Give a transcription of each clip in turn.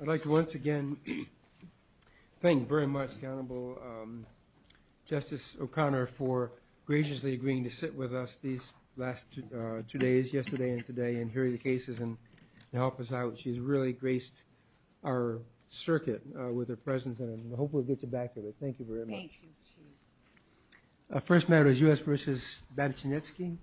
I'd like to once again thank very much the Honorable Justice O'Connor for graciously agreeing to sit with us these last two days, yesterday and today, and hear the cases and help us out. She's really graced our circuit with her presence and I hope we'll get you back to it. Thank you very much. Our first matter is U.S. v. Babchinetskiy.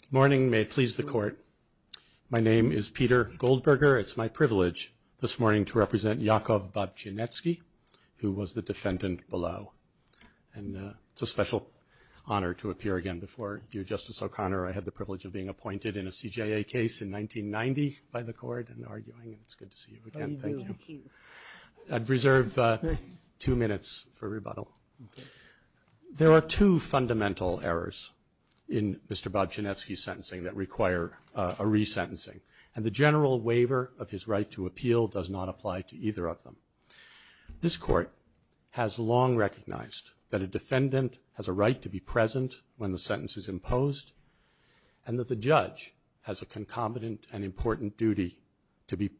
Good morning. May it please the Court. My name is Peter Goldberger. It's my privilege this morning to represent Yakov Babchinetskiy, who was the defendant below. And it's a special honor to appear again before you, Justice O'Connor. I had the privilege of being appointed in a CJA case in 1990 by the Court and arguing. It's good to see you again. I'd reserve two minutes for rebuttal. There are two fundamental errors in Mr. Babchinetskiy's sentencing that require a resentencing. And the general waiver of his right to appeal does not apply to either of them. This Court has long recognized that a defendant has a right to be present when the sentence is imposed, and that the judge has a concomitant and important duty to be,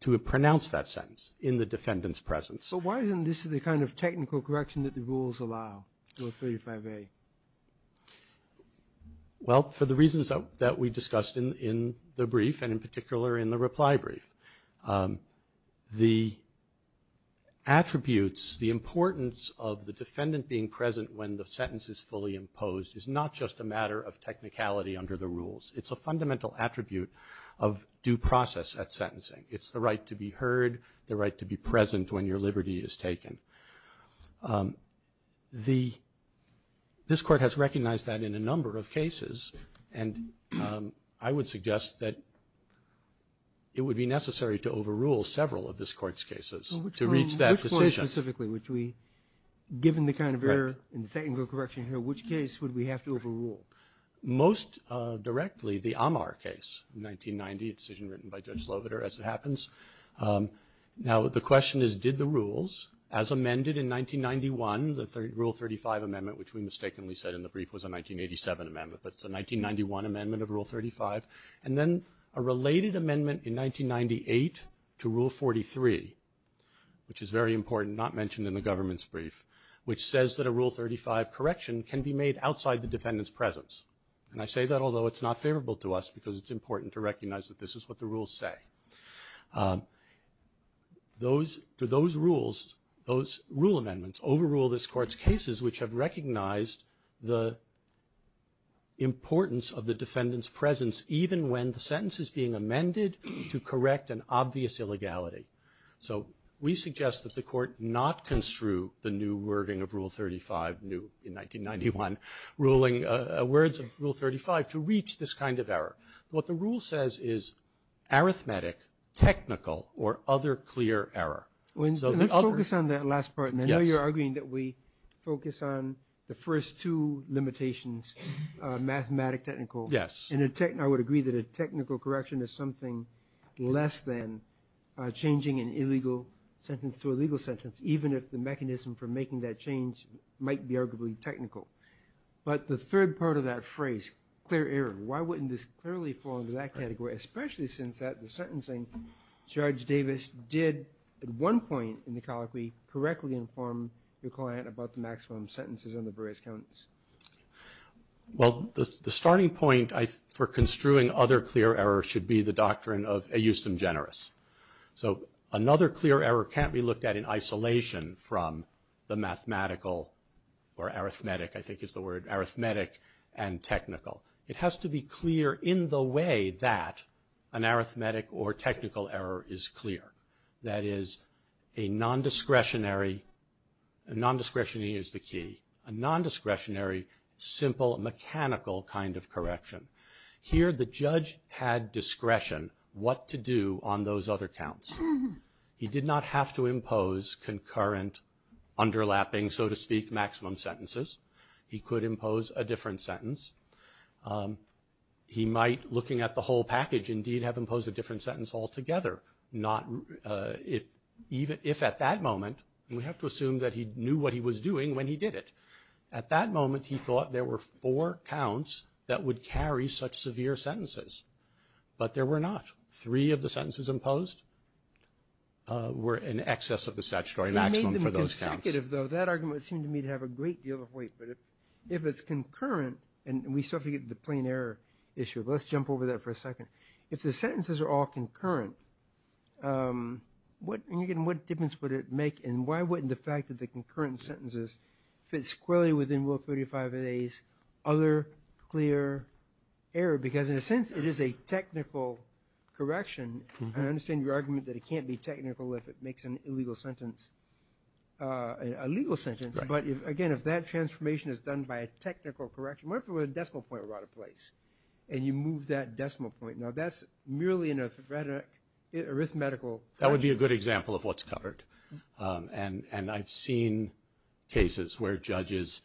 to pronounce that sentence in the defendant's presence. So why isn't this the kind of technical correction that the rules allow with 35A? Well, for the reasons that we discussed in the brief, and in particular in the reply brief, the attributes, the importance of the defendant being present when the sentence is fully imposed is not just a matter of technicality under the rules. It's a fundamental attribute of due process at sentencing. It's the right to This Court has recognized that in a number of cases, and I would suggest that it would be necessary to overrule several of this Court's cases to reach that decision. Which one specifically? Given the kind of error in the technical correction here, which case would we have to overrule? Most directly, the Amar case in 1990, a decision written by Judge Sloviter, as it happens. Now, the question is, did the rules, as amended in 1991, the Rule 35 amendment, which we mistakenly said in the brief was a 1987 amendment, but it's a 1991 amendment of Rule 35, and then a related amendment in 1998 to Rule 43, which is very important, not mentioned in the government's brief, which says that a Rule 35 correction can be made outside the defendant's presence. And I say that although it's not favorable to us, because it's important to recognize that this is what the rules say. Do those rules, those rule amendments, overrule this Court's cases, which have recognized the importance of the defendant's presence, even when the sentence is being amended to correct an obvious illegality? So, we suggest that the Court not construe the new wording of Rule 35, new in 1991, words of Rule 35, to reach this kind of error. What the rule says is, arithmetic, technical, or other clear error. Let's focus on that last part, and I know you're arguing that we focus on the first two limitations, mathematic, technical, and I would agree that a technical correction is something less than changing an illegal sentence to a legal sentence, even if the mechanism for making that change might be arguably technical. But the third part of that phrase, clear error, why wouldn't this clearly fall into that category, especially since at the sentencing, Judge Davis did, at one point in the colloquy, correctly inform the client about the maximum sentences on the various counts? Well, the starting point for construing other clear error should be the doctrine of a justum generis. So, another clear error can't be looked at in isolation from the mathematical, or arithmetic, I think is the word, arithmetic and technical. It has to be clear in the way that an arithmetic or technical error is clear. That is, a non-discretionary, a non-discretionary is the key, a non-discretionary, simple, mechanical kind of correction. Here, the judge had discretion what to do on those other counts. He did not have to impose concurrent, underlapping, so to speak, maximum sentences. He could impose a different sentence. He might, looking at the whole package, indeed, have imposed a different sentence altogether, if at that moment, and we have to assume that he knew what he was doing when he did it. At that moment, he thought there were four counts that would carry such severe sentences, but there were not. Three of the sentences imposed were in excess of the statutory maximum for those counts. You made them consecutive, though. That argument seemed to me to have a great deal of weight, but if it's concurrent, and we still have to get to the plain error issue, but let's jump over that for a second. If the sentences are all concurrent, what difference would it make, and why wouldn't the fact that the concurrent sentences fit squarely within Rule 35 of A's other clear error? Because, in a sense, it is a technical correction. I understand your argument that it can't be technical if it makes an illegal sentence, a legal sentence, but again, if that transformation is done by a technical correction, what if a decimal point were out of place, and you move that decimal point? Now, that's merely an arithmetical... You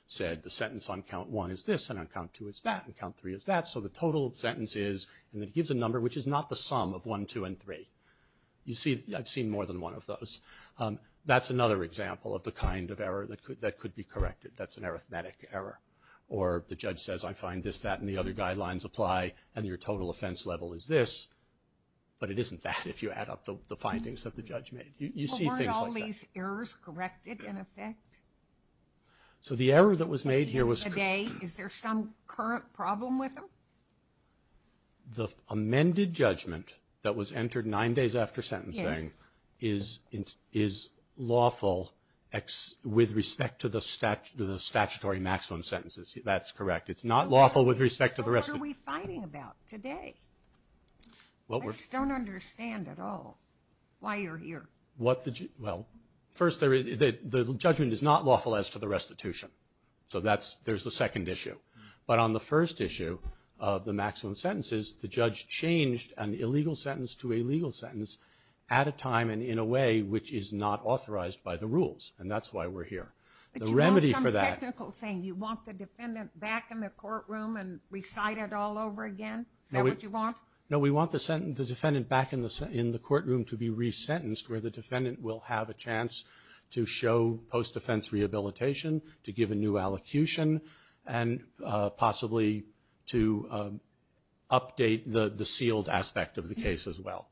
said the sentence on count one is this, and on count two is that, and count three is that, so the total sentence is, and it gives a number which is not the sum of one, two, and three. You see, I've seen more than one of those. That's another example of the kind of error that could be corrected. That's an arithmetic error, or the judge says, I find this, that, and the other guidelines apply, and your total offense level is this, but it isn't that if you add up the findings that the judge made. Well, weren't all these errors corrected, in effect? So, the error that was made here was... Here, today, is there some current problem with them? The amended judgment that was entered nine days after sentencing... Yes. ...is lawful with respect to the statutory maximum sentences. That's correct. It's not lawful with respect to the rest of... So, what are we fighting about today? What we're... I just don't understand at all why you're here. What the... Well, first, the judgment is not lawful as to the restitution. So, there's the second issue. But on the first issue of the maximum sentences, the judge changed an illegal sentence to a legal sentence at a time and in a way which is not authorized by the rules, and that's why we're here. The remedy for that... But you want some technical thing. You want the defendant back in the courtroom and recited all over again? Is that what you want? No, we want the defendant back in the courtroom to be resentenced where the defendant will have a chance to show post-defense rehabilitation, to give a new allocution, and possibly to update the sealed aspect of the case as well,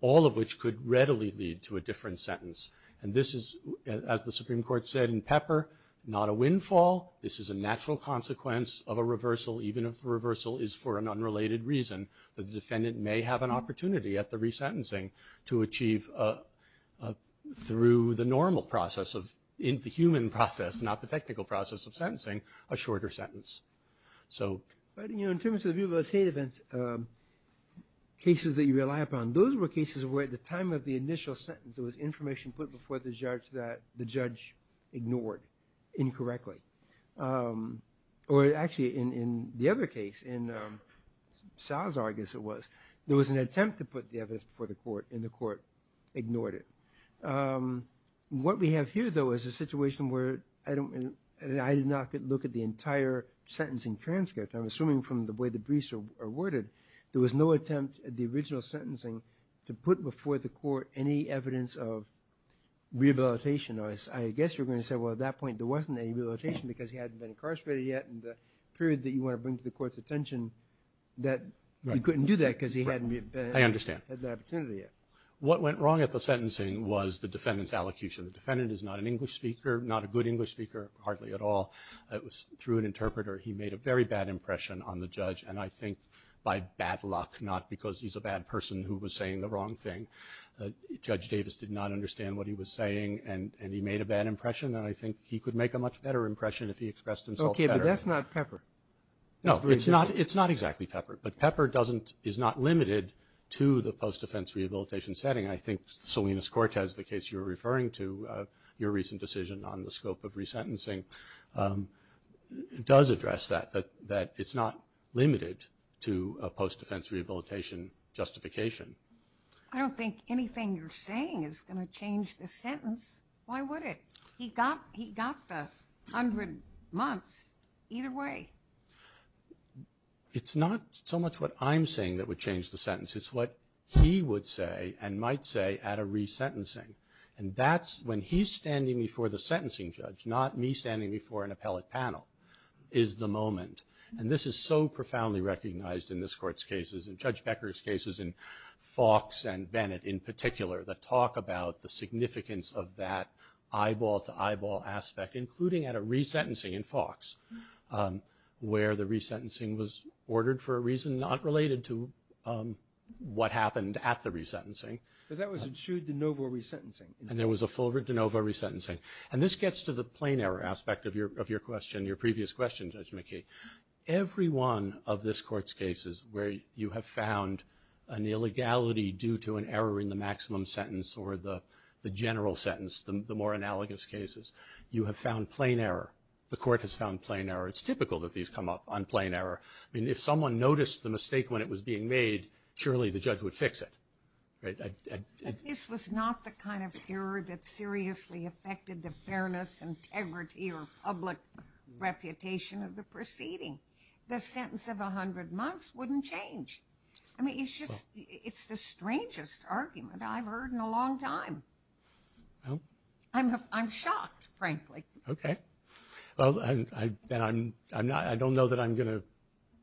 all of which could readily lead to a different sentence. And this is, as the Supreme Court said in Pepper, not a windfall. This is a natural consequence of a reversal, even if the reversal is for an unrelated reason, that the defendant may have an opportunity at the resentencing to achieve, through the normal process, the human process, not the technical process of sentencing, a shorter sentence. So... But, you know, in terms of the view about hate events, cases that you rely upon, those were cases where at the time of the initial sentence there was information put before the judge that the judge ignored incorrectly. Or actually, in the other case, in Salazar, I guess it was, there was an attempt to put the evidence before the court, and the court ignored it. What we have here, though, is a situation where I don't... I did not look at the entire sentencing transcript. I'm assuming from the way the briefs are worded, there was no attempt at the original sentencing to put before the court any evidence of rehabilitation. I guess you're going to say, well, at that point there wasn't any rehabilitation because he hadn't been incarcerated yet, and the period that you want to bring to the court's attention, that you couldn't do that because he hadn't had the opportunity yet. I understand. What went wrong at the sentencing was the defendant's allocution. The defendant is not an English speaker, not a good English speaker, hardly at all. It was through an interpreter. He made a very bad impression on the judge, and I think by bad luck, not because he's a bad person who was saying the wrong thing. Judge Davis did not understand what he was saying, and he made a bad impression, and I think he could make a much better impression if he expressed himself better. Okay, but that's not Pepper. No, it's not exactly Pepper, but Pepper is not limited to the post-defense rehabilitation setting. I think Salinas-Cortez, the case you were referring to, your recent decision on the scope of resentencing does address that, that it's not limited to a post-defense rehabilitation justification. I don't think anything you're saying is going to change the sentence. Why would it? He got the 100 months, either way. It's not so much what I'm saying that would change the sentence, it's what he would say and might say at a resentencing. And that's when he's standing before the sentencing judge, not me standing before an appellate panel, is the moment. And this is so profoundly recognized in this court's cases, in Judge Becker's cases, in Fox and Bennett in particular. The talk about the significance of that eyeball to eyeball aspect, including at a resentencing in Fox, where the resentencing was ordered for a reason not related to what happened at the resentencing. But that was ensued de novo resentencing. And there was a full de novo resentencing. And this gets to the plain error aspect of your question, your previous question, Judge McKee. Every one of this court's cases where you have found an illegality due to an error in the maximum sentence or the general sentence, the more analogous cases, you have found plain error. The court has found plain error. It's typical that these come up on plain error. I mean, if someone noticed the mistake when it was being made, surely the judge would fix it, right? This was not the kind of error that seriously affected the fairness, integrity, or public reputation of the proceeding. The sentence of 100 months wouldn't change. I mean, it's just, it's the strangest argument I've heard in a long time. I'm shocked, frankly. Okay. Well, I don't know that I'm gonna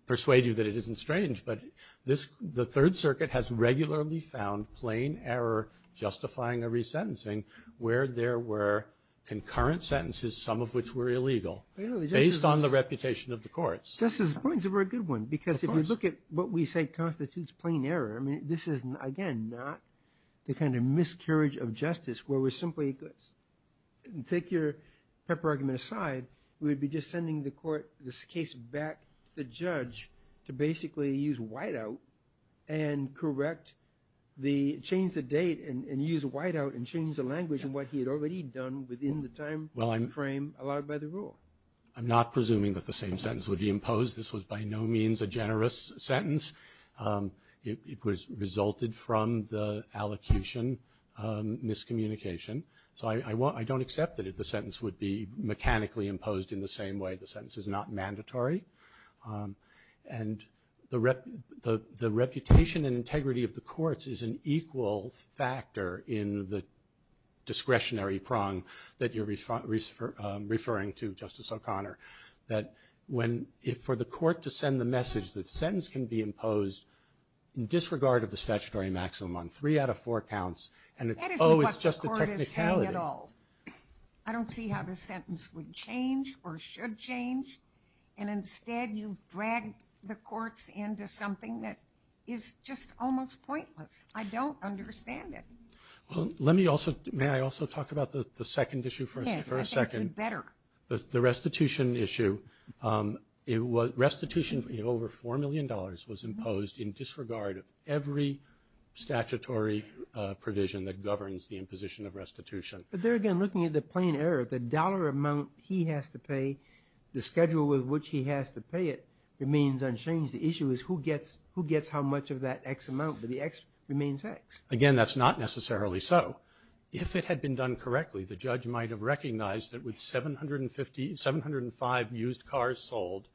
persuade you that it isn't strange, but the Third Circuit has regularly found plain error justifying a resentencing where there were concurrent sentences, some of which were illegal, based on the reputation of the courts. Justice, the points are a very good one. Because if you look at what we say constitutes plain error, I mean, this is, again, not the kind of miscarriage of justice where we're simply, take your pepper argument aside, we would be just sending the court, this case, back to the judge to basically use whiteout and correct the, change the date and use whiteout and change the language in what he had already done within the time frame allowed by the rule. I'm not presuming that the same sentence would be imposed. This was by no means a generous sentence. It, it was resulted from the allocation miscommunication. So I, I won't, I don't accept that if the sentence would be mechanically imposed in the same way, the sentence is not mandatory. And the rep, the, the reputation and integrity of the courts is an equal factor in the discretionary prong that when, if for the court to send the message that sentence can be imposed. In disregard of the statutory maximum on three out of four counts. And it's always just a technicality. I don't see how the sentence would change or should change. And instead, you've dragged the courts into something that is just almost pointless. I don't understand it. Well, let me also, may I also talk about the, the second issue for a, for a second? Yes, I think you'd better. The, the restitution issue it was, restitution over $4 million was imposed in disregard of every statutory provision that governs the imposition of restitution. But there again, looking at the plain error, the dollar amount he has to pay, the schedule with which he has to pay it, remains unchanged. The issue is who gets, who gets how much of that X amount, but the X remains X. Again, that's not necessarily so. If it had been done correctly, the judge might have recognized that with 750, 705 used cars sold,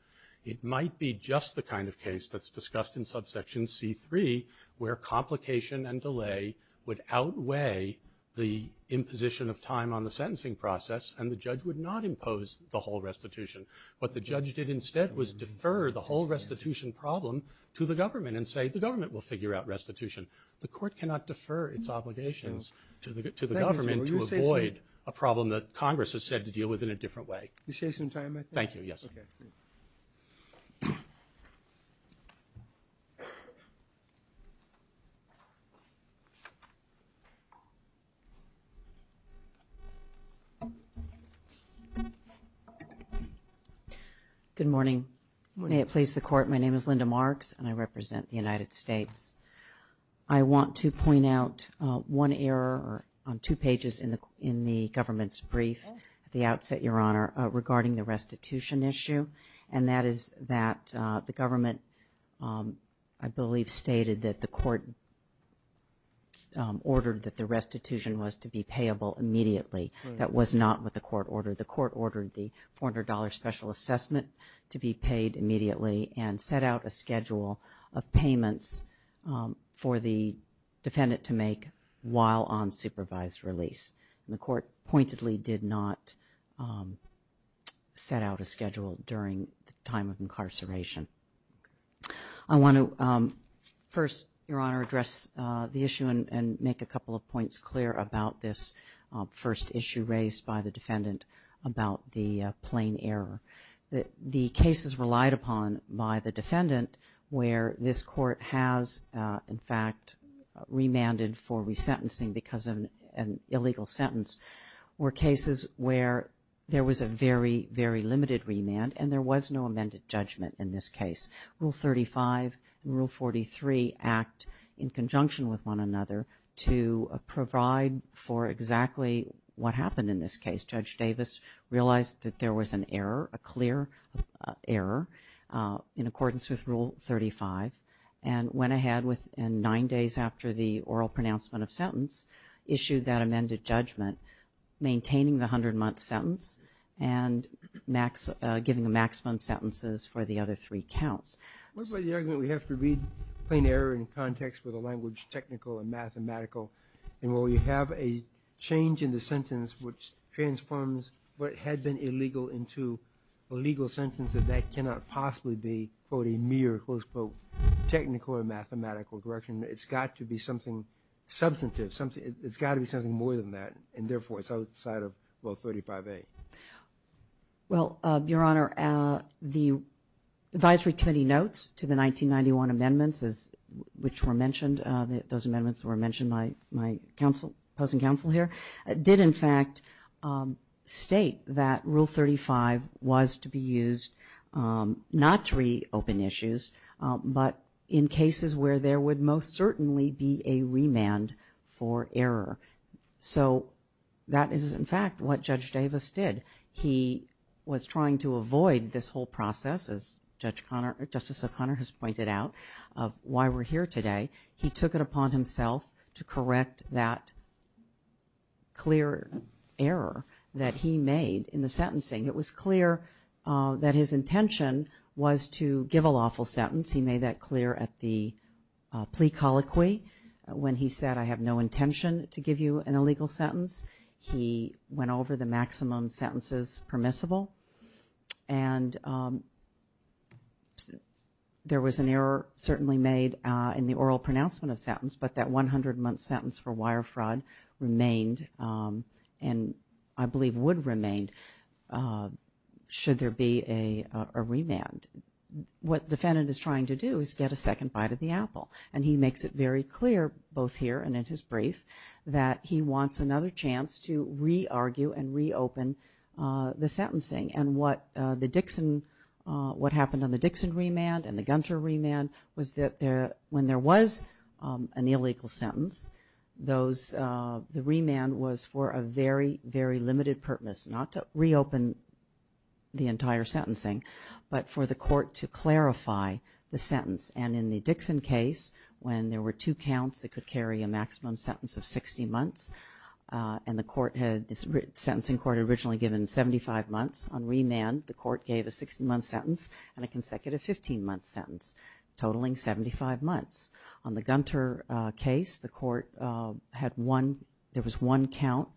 it might be just the kind of case that's discussed in subsection C3, where complication and delay would outweigh the imposition of time on the sentencing process, and the judge would not impose the whole restitution. What the judge did instead was defer the whole restitution problem to the government and say, the government will figure out restitution. The court cannot defer its obligations to the, to the government to avoid a problem that Congress has said to deal with in a different way. You say some time, I think. Thank you, yes. Okay. Good morning. May it please the court, my name is Linda Marks and I represent the United States. I want to point out one error on two pages in the, in the government's brief at the outset, your honor, regarding the restitution issue. And that is that the government, I believe, stated that the court ordered that the restitution was to be payable immediately. That was not what the court ordered. The court ordered the $400 special assessment to be paid immediately and set out a schedule of payments for the defendant to make while on supervised release. And the court pointedly did not set out a schedule during the time of incarceration. I want to first, your honor, address the issue and, and make a couple of points clear about this first issue raised by the defendant about the plain error, that the cases relied upon by the defendant, where this court has, in fact, remanded for resentencing because of an illegal sentence, were cases where there was a very, very limited remand, and there was no amended judgment in this case. Rule 35 and Rule 43 act in conjunction with one another to provide for exactly what happened in this case. Judge Davis realized that there was an error, a clear error, in accordance with Rule 35. And went ahead with, and nine days after the oral pronouncement of sentence, issued that amended judgment, maintaining the 100 month sentence and max, giving the maximum sentences for the other three counts. What about the argument we have to read plain error in context with a language technical and mathematical, and will we have a change in the sentence which transforms what had been illegal into a legal sentence, and that cannot possibly be, quote, a mere, close quote, technical or mathematical correction. It's got to be something substantive, something, it's got to be something more than that, and therefore, it's outside of Rule 35A. Well, your honor, the advisory committee notes to the 1991 amendments as, which were mentioned, those amendments were mentioned by, my counsel, opposing counsel here, did in fact state that Rule 35 was to be used not to reopen issues, but in cases where there would most certainly be a remand for error. So, that is in fact what Judge Davis did. He was trying to avoid this whole process, as Justice O'Connor has pointed out, of why we're here today. He took it upon himself to correct that clear error that he made in the sentencing. It was clear that his intention was to give a lawful sentence. He made that clear at the plea colloquy when he said, I have no intention to give you an illegal sentence. He went over the maximum sentences permissible, and there was an error certainly made in the oral pronouncement of sentence, but that 100 month sentence for wire fraud remained, and I believe would remain, should there be a remand. What defendant is trying to do is get a second bite of the apple. And he makes it very clear, both here and in his brief, that he wants another chance to re-argue and re-open the sentencing. And what happened on the Dixon remand and the Gunter remand was that when there was an illegal sentence, the remand was for a very, very limited purpose, not to reopen the entire sentencing, but for the court to clarify the sentence. And in the Dixon case, when there were two counts that could carry a maximum sentence of 60 months, and the sentencing court had originally given 75 months on remand, the court gave a 60 month sentence and a consecutive 15 month sentence, totaling 75 months. On the Gunter case, the court had one, there was one count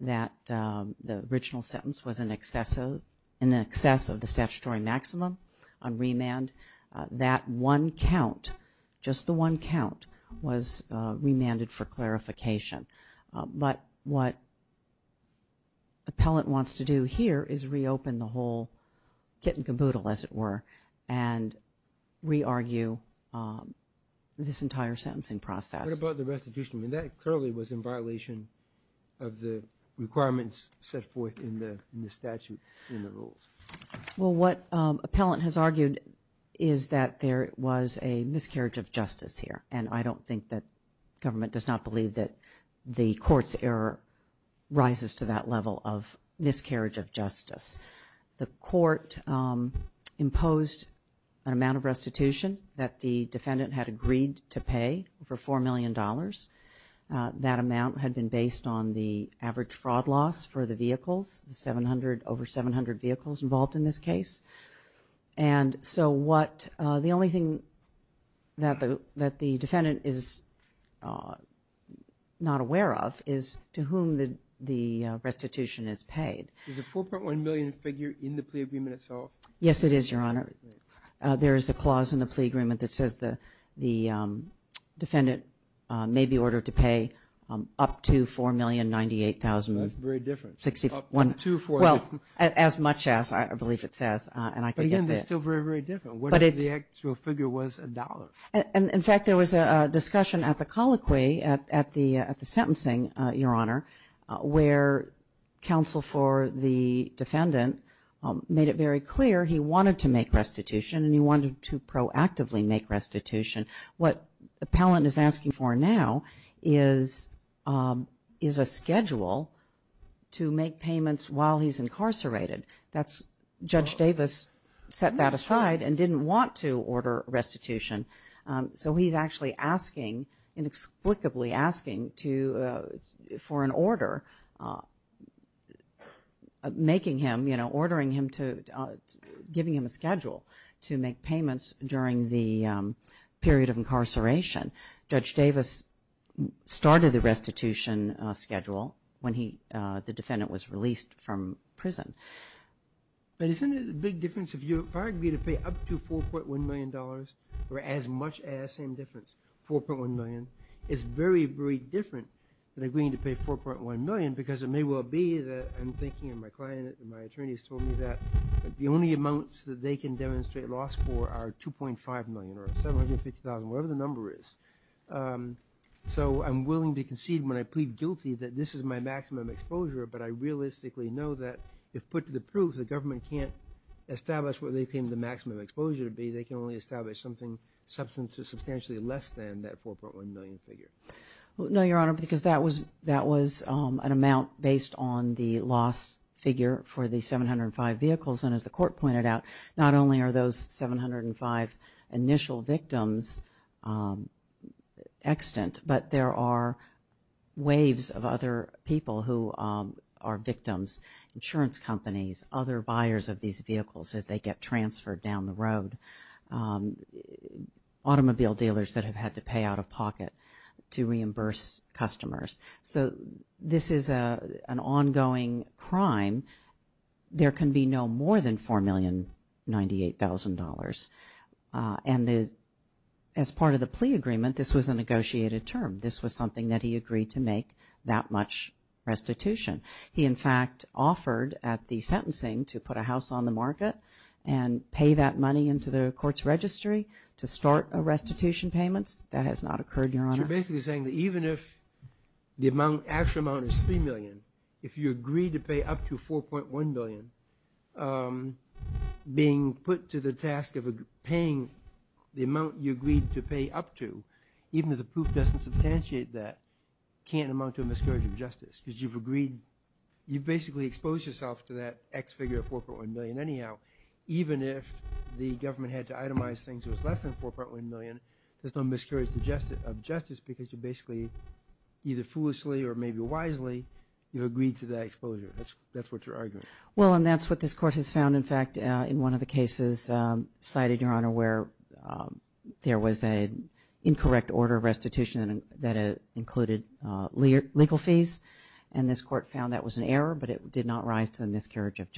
that the original sentence was in excess of the statutory maximum on remand. That one count, just the one count, was remanded for clarification. But what appellant wants to do here is reopen the whole kit and caboodle, as it were, and re-argue this entire sentencing process. What about the restitution? I mean, that clearly was in violation of the requirements set forth in the statute, in the rules. Well, what appellant has argued is that there was a miscarriage of justice here. And I don't think that government does not believe that the court's error rises to that level of miscarriage of justice. The court imposed an amount of restitution that the defendant had agreed to pay for $4 million. That amount had been based on the average fraud loss for the vehicles, the 700, over 700 vehicles involved in this case. And so what, the only thing that the defendant is not aware of is to whom the restitution is paid. Is the 4.1 million figure in the plea agreement itself? Yes, it is, Your Honor. There is a clause in the plea agreement that says the defendant may be ordered to pay up to $4,098,000. That's very different. 61. Two or four. Well, as much as I believe it says, and I can get that. But again, that's still very, very different. What if the actual figure was a dollar? In fact, there was a discussion at the colloquy, at the sentencing, Your Honor, where counsel for the defendant made it very clear he wanted to make restitution, and he wanted to proactively make restitution. What the appellant is asking for now is a schedule to make payments while he's incarcerated. That's, Judge Davis set that aside and didn't want to order restitution. So he's actually asking, inexplicably asking for an order. Making him, ordering him to, giving him a schedule to make payments during the period of incarceration. Judge Davis started the restitution schedule when he, the defendant was released from prison. But isn't it a big difference if you, if I agreed to pay up to $4.1 million, or as much as, same difference, $4.1 million, it's very, very different than agreeing to pay $4.1 million. Because it may well be that I'm thinking, and my client and my attorney has told me that the only amounts that they can demonstrate a loss for are $2.5 million, or $750,000, whatever the number is. So I'm willing to concede when I plead guilty that this is my maximum exposure, but I realistically know that if put to the proof, the government can't establish what they claim the maximum exposure to be, they can only establish something substantially less than that $4.1 million figure. No, Your Honor, because that was, that was an amount based on the loss figure for the 705 vehicles, and as the court pointed out, not only are those 705 initial victims extant, but there are waves of other people who are victims, insurance companies, other buyers of these vehicles as they get transferred down the road, automobile dealers that have had to pay out of pocket. To reimburse customers. So this is an ongoing crime. There can be no more than $4,098,000. And as part of the plea agreement, this was a negotiated term. This was something that he agreed to make that much restitution. He, in fact, offered at the sentencing to put a house on the market and pay that money into the court's registry to start a restitution payments. That has not occurred, Your Honor. So you're basically saying that even if the amount, actual amount is $3 million, if you agreed to pay up to $4.1 million, being put to the task of paying the amount you agreed to pay up to, even if the proof doesn't substantiate that, can't amount to a miscarriage of justice, because you've agreed, you've basically exposed yourself to that X figure of $4.1 million. Anyhow, even if the government had to itemize things that was less than $4.1 million, there's no miscarriage of justice because you basically, either foolishly or maybe wisely, you agreed to that exposure. That's what you're arguing. Well, and that's what this court has found. In fact, in one of the cases cited, Your Honor, where there was an incorrect order of restitution that included legal fees. And this court found that was an error, but it did not rise to the miscarriage of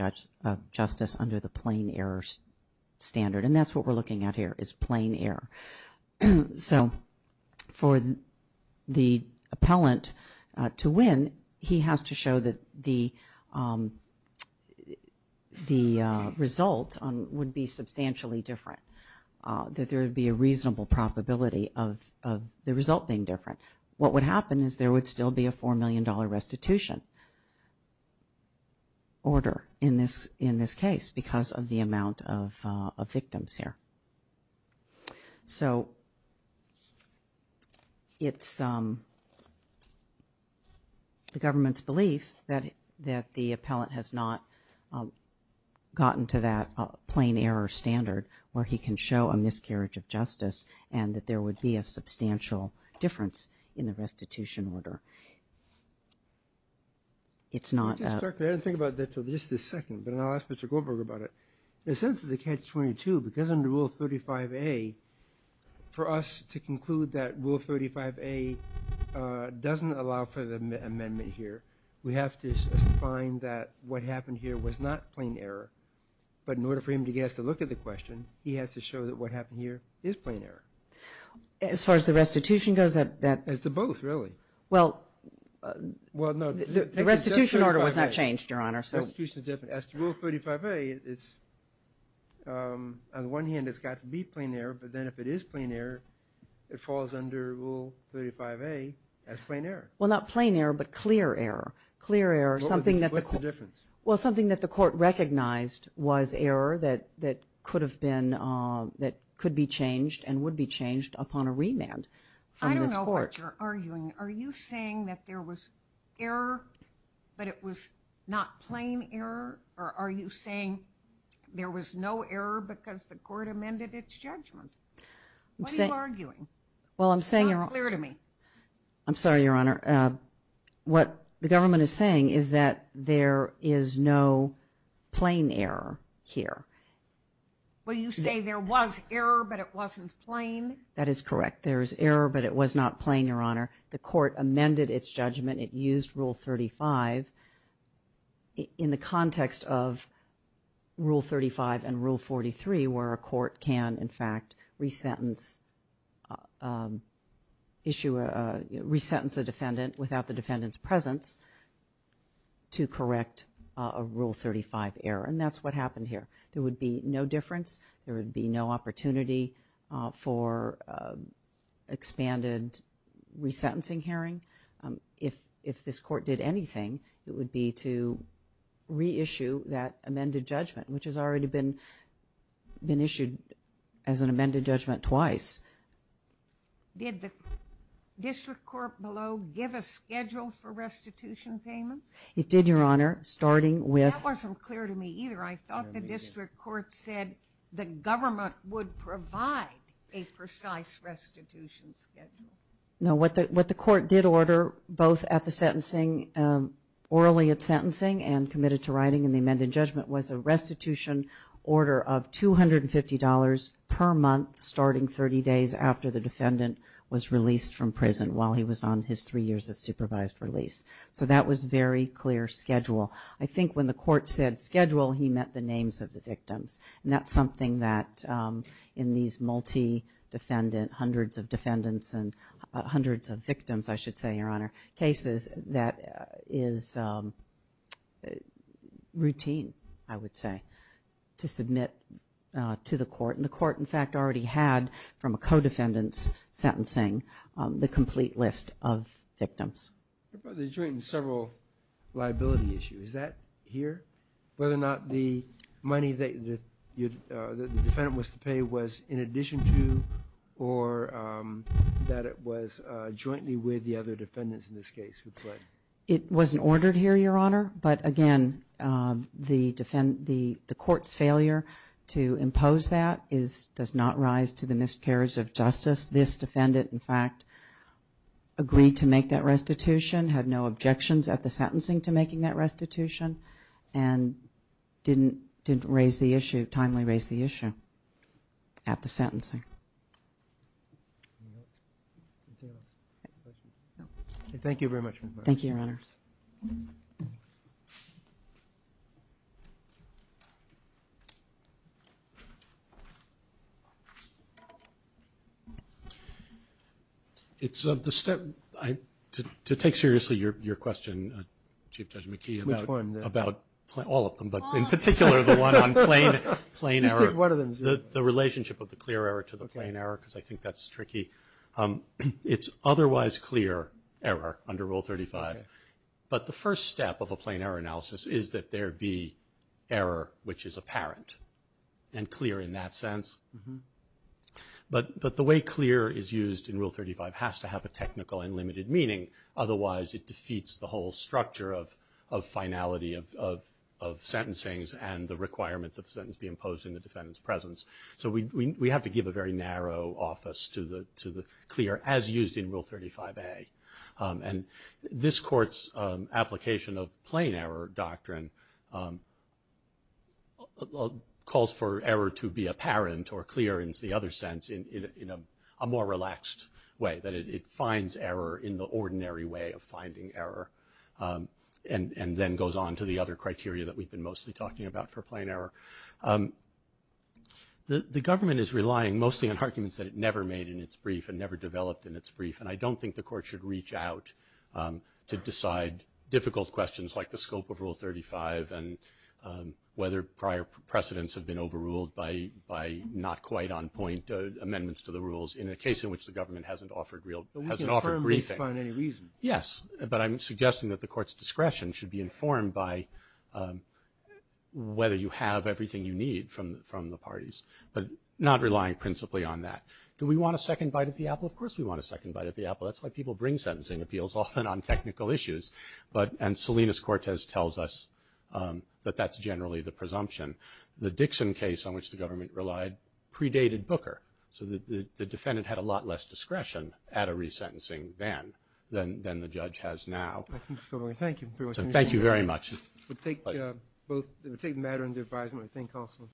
justice under the plain error standard. And that's what we're looking at here, is plain error. So, for the appellant to win, he has to show that the result would be substantially different. That there would be a reasonable probability of the result being different. What would happen is there would still be a $4 million restitution order in this case because of the amount of victims here. So, it's the government's belief that the appellant has not gotten to that plain error standard where he can show a miscarriage of justice and that there would be a substantial difference in the restitution order. It's not- I didn't think about that until just this second, but I'll ask Mr. Goldberg about it. In a sense of the catch-22, because under Rule 35A, for us to conclude that Rule 35A doesn't allow for the amendment here, we have to find that what happened here was not plain error. But in order for him to get us to look at the question, he has to show that what happened here is plain error. As far as the restitution goes, that- As to both, really. Well, the restitution order was not changed, Your Honor. The restitution is different. As to Rule 35A, it's, on the one hand, it's got to be plain error, but then if it is plain error, it falls under Rule 35A as plain error. Well, not plain error, but clear error. Clear error, something that the- What's the difference? Well, something that the court recognized was error that could have been, that could be changed and would be changed upon a remand from this court. I don't know what you're arguing. Are you saying that there was error, but it was not plain error? Or are you saying there was no error because the court amended its judgment? What are you arguing? Well, I'm saying- It's not clear to me. I'm sorry, Your Honor. What the government is saying is that there is no plain error here. Well, you say there was error, but it wasn't plain. That is correct. There is error, but it was not plain, Your Honor. The court amended its judgment. It used Rule 35 in the context of Rule 35 and Rule 43, where a court can, in fact, resentence issue a, resentence a defendant without the defendant's presence to correct a Rule 35 error. And that's what happened here. There would be no difference. There would be no opportunity for expanded resentencing hearing. If this court did anything, it would be to reissue that amended judgment, which has already been issued as an amended judgment twice. Did the district court below give a schedule for restitution payments? It did, Your Honor, starting with- That wasn't clear to me either. I thought the district court said that government would provide a precise restitution schedule. No, what the court did order, both at the sentencing, orally at sentencing and committed to writing in the amended judgment, was a restitution order of $250 per month, starting 30 days after the defendant was released from prison, while he was on his three years of supervised release. So that was very clear schedule. I think when the court said schedule, he meant the names of the victims. And that's something that in these multi-defendant, hundreds of defendants and hundreds of victims, I should say, Your Honor, cases that is routine, I would say, to submit to the court. And the court, in fact, already had, from a co-defendant's sentencing, the complete list of victims. The joint and several liability issue, is that here? Whether or not the money that the defendant was to pay was in addition to, or that it was jointly with the other defendants in this case who pled? It wasn't ordered here, Your Honor. But again, the court's failure to impose that does not rise to the miscarriage of justice. This defendant, in fact, agreed to make that restitution, had no objections at the sentencing to making that restitution, and didn't raise the issue, timely raise the issue at the sentencing. Thank you very much. Thank you, Your Honor. It's the step, to take seriously your question, Chief Judge McKee. Which one? About all of them, but in particular the one on plain error. Just take one of them. The relationship of the clear error to the plain error, because I think that's tricky. It's otherwise clear error under Rule 35. But the first step of a plain error analysis is that there be error, which is apparent and clear in that sense. Mm-hm. But the way clear is used in Rule 35 has to have a technical and limited meaning. Otherwise, it defeats the whole structure of finality of sentencing and the requirement that the sentence be imposed in the defendant's presence. So we have to give a very narrow office to the clear, as used in Rule 35A. And this court's application of plain error doctrine calls for error to be apparent or clear, in the other sense, in a more relaxed way, that it finds error in the ordinary way of finding error. And then goes on to the other criteria that we've been mostly talking about for plain error. The government is relying mostly on arguments that it never made in its brief and never developed in its brief. And I don't think the court should reach out to decide difficult questions like the scope of Rule 35 and whether prior precedents have been overruled by not quite on point amendments to the rules in a case in which the government hasn't offered real, hasn't offered briefing. But we can affirm this by any reason. Yes, but I'm suggesting that the court's discretion should be informed by whether you have everything you need from the parties. But not relying principally on that. Do we want a second bite at the apple? Of course we want a second bite at the apple. That's why people bring sentencing appeals often on technical issues. But, and Salinas-Cortez tells us that that's generally the presumption. The Dixon case, on which the government relied, predated Booker. So the defendant had a lot less discretion at a resentencing then, than the judge has now. Thank you very much. We'll take both, we'll take the matter under advisement, I think also.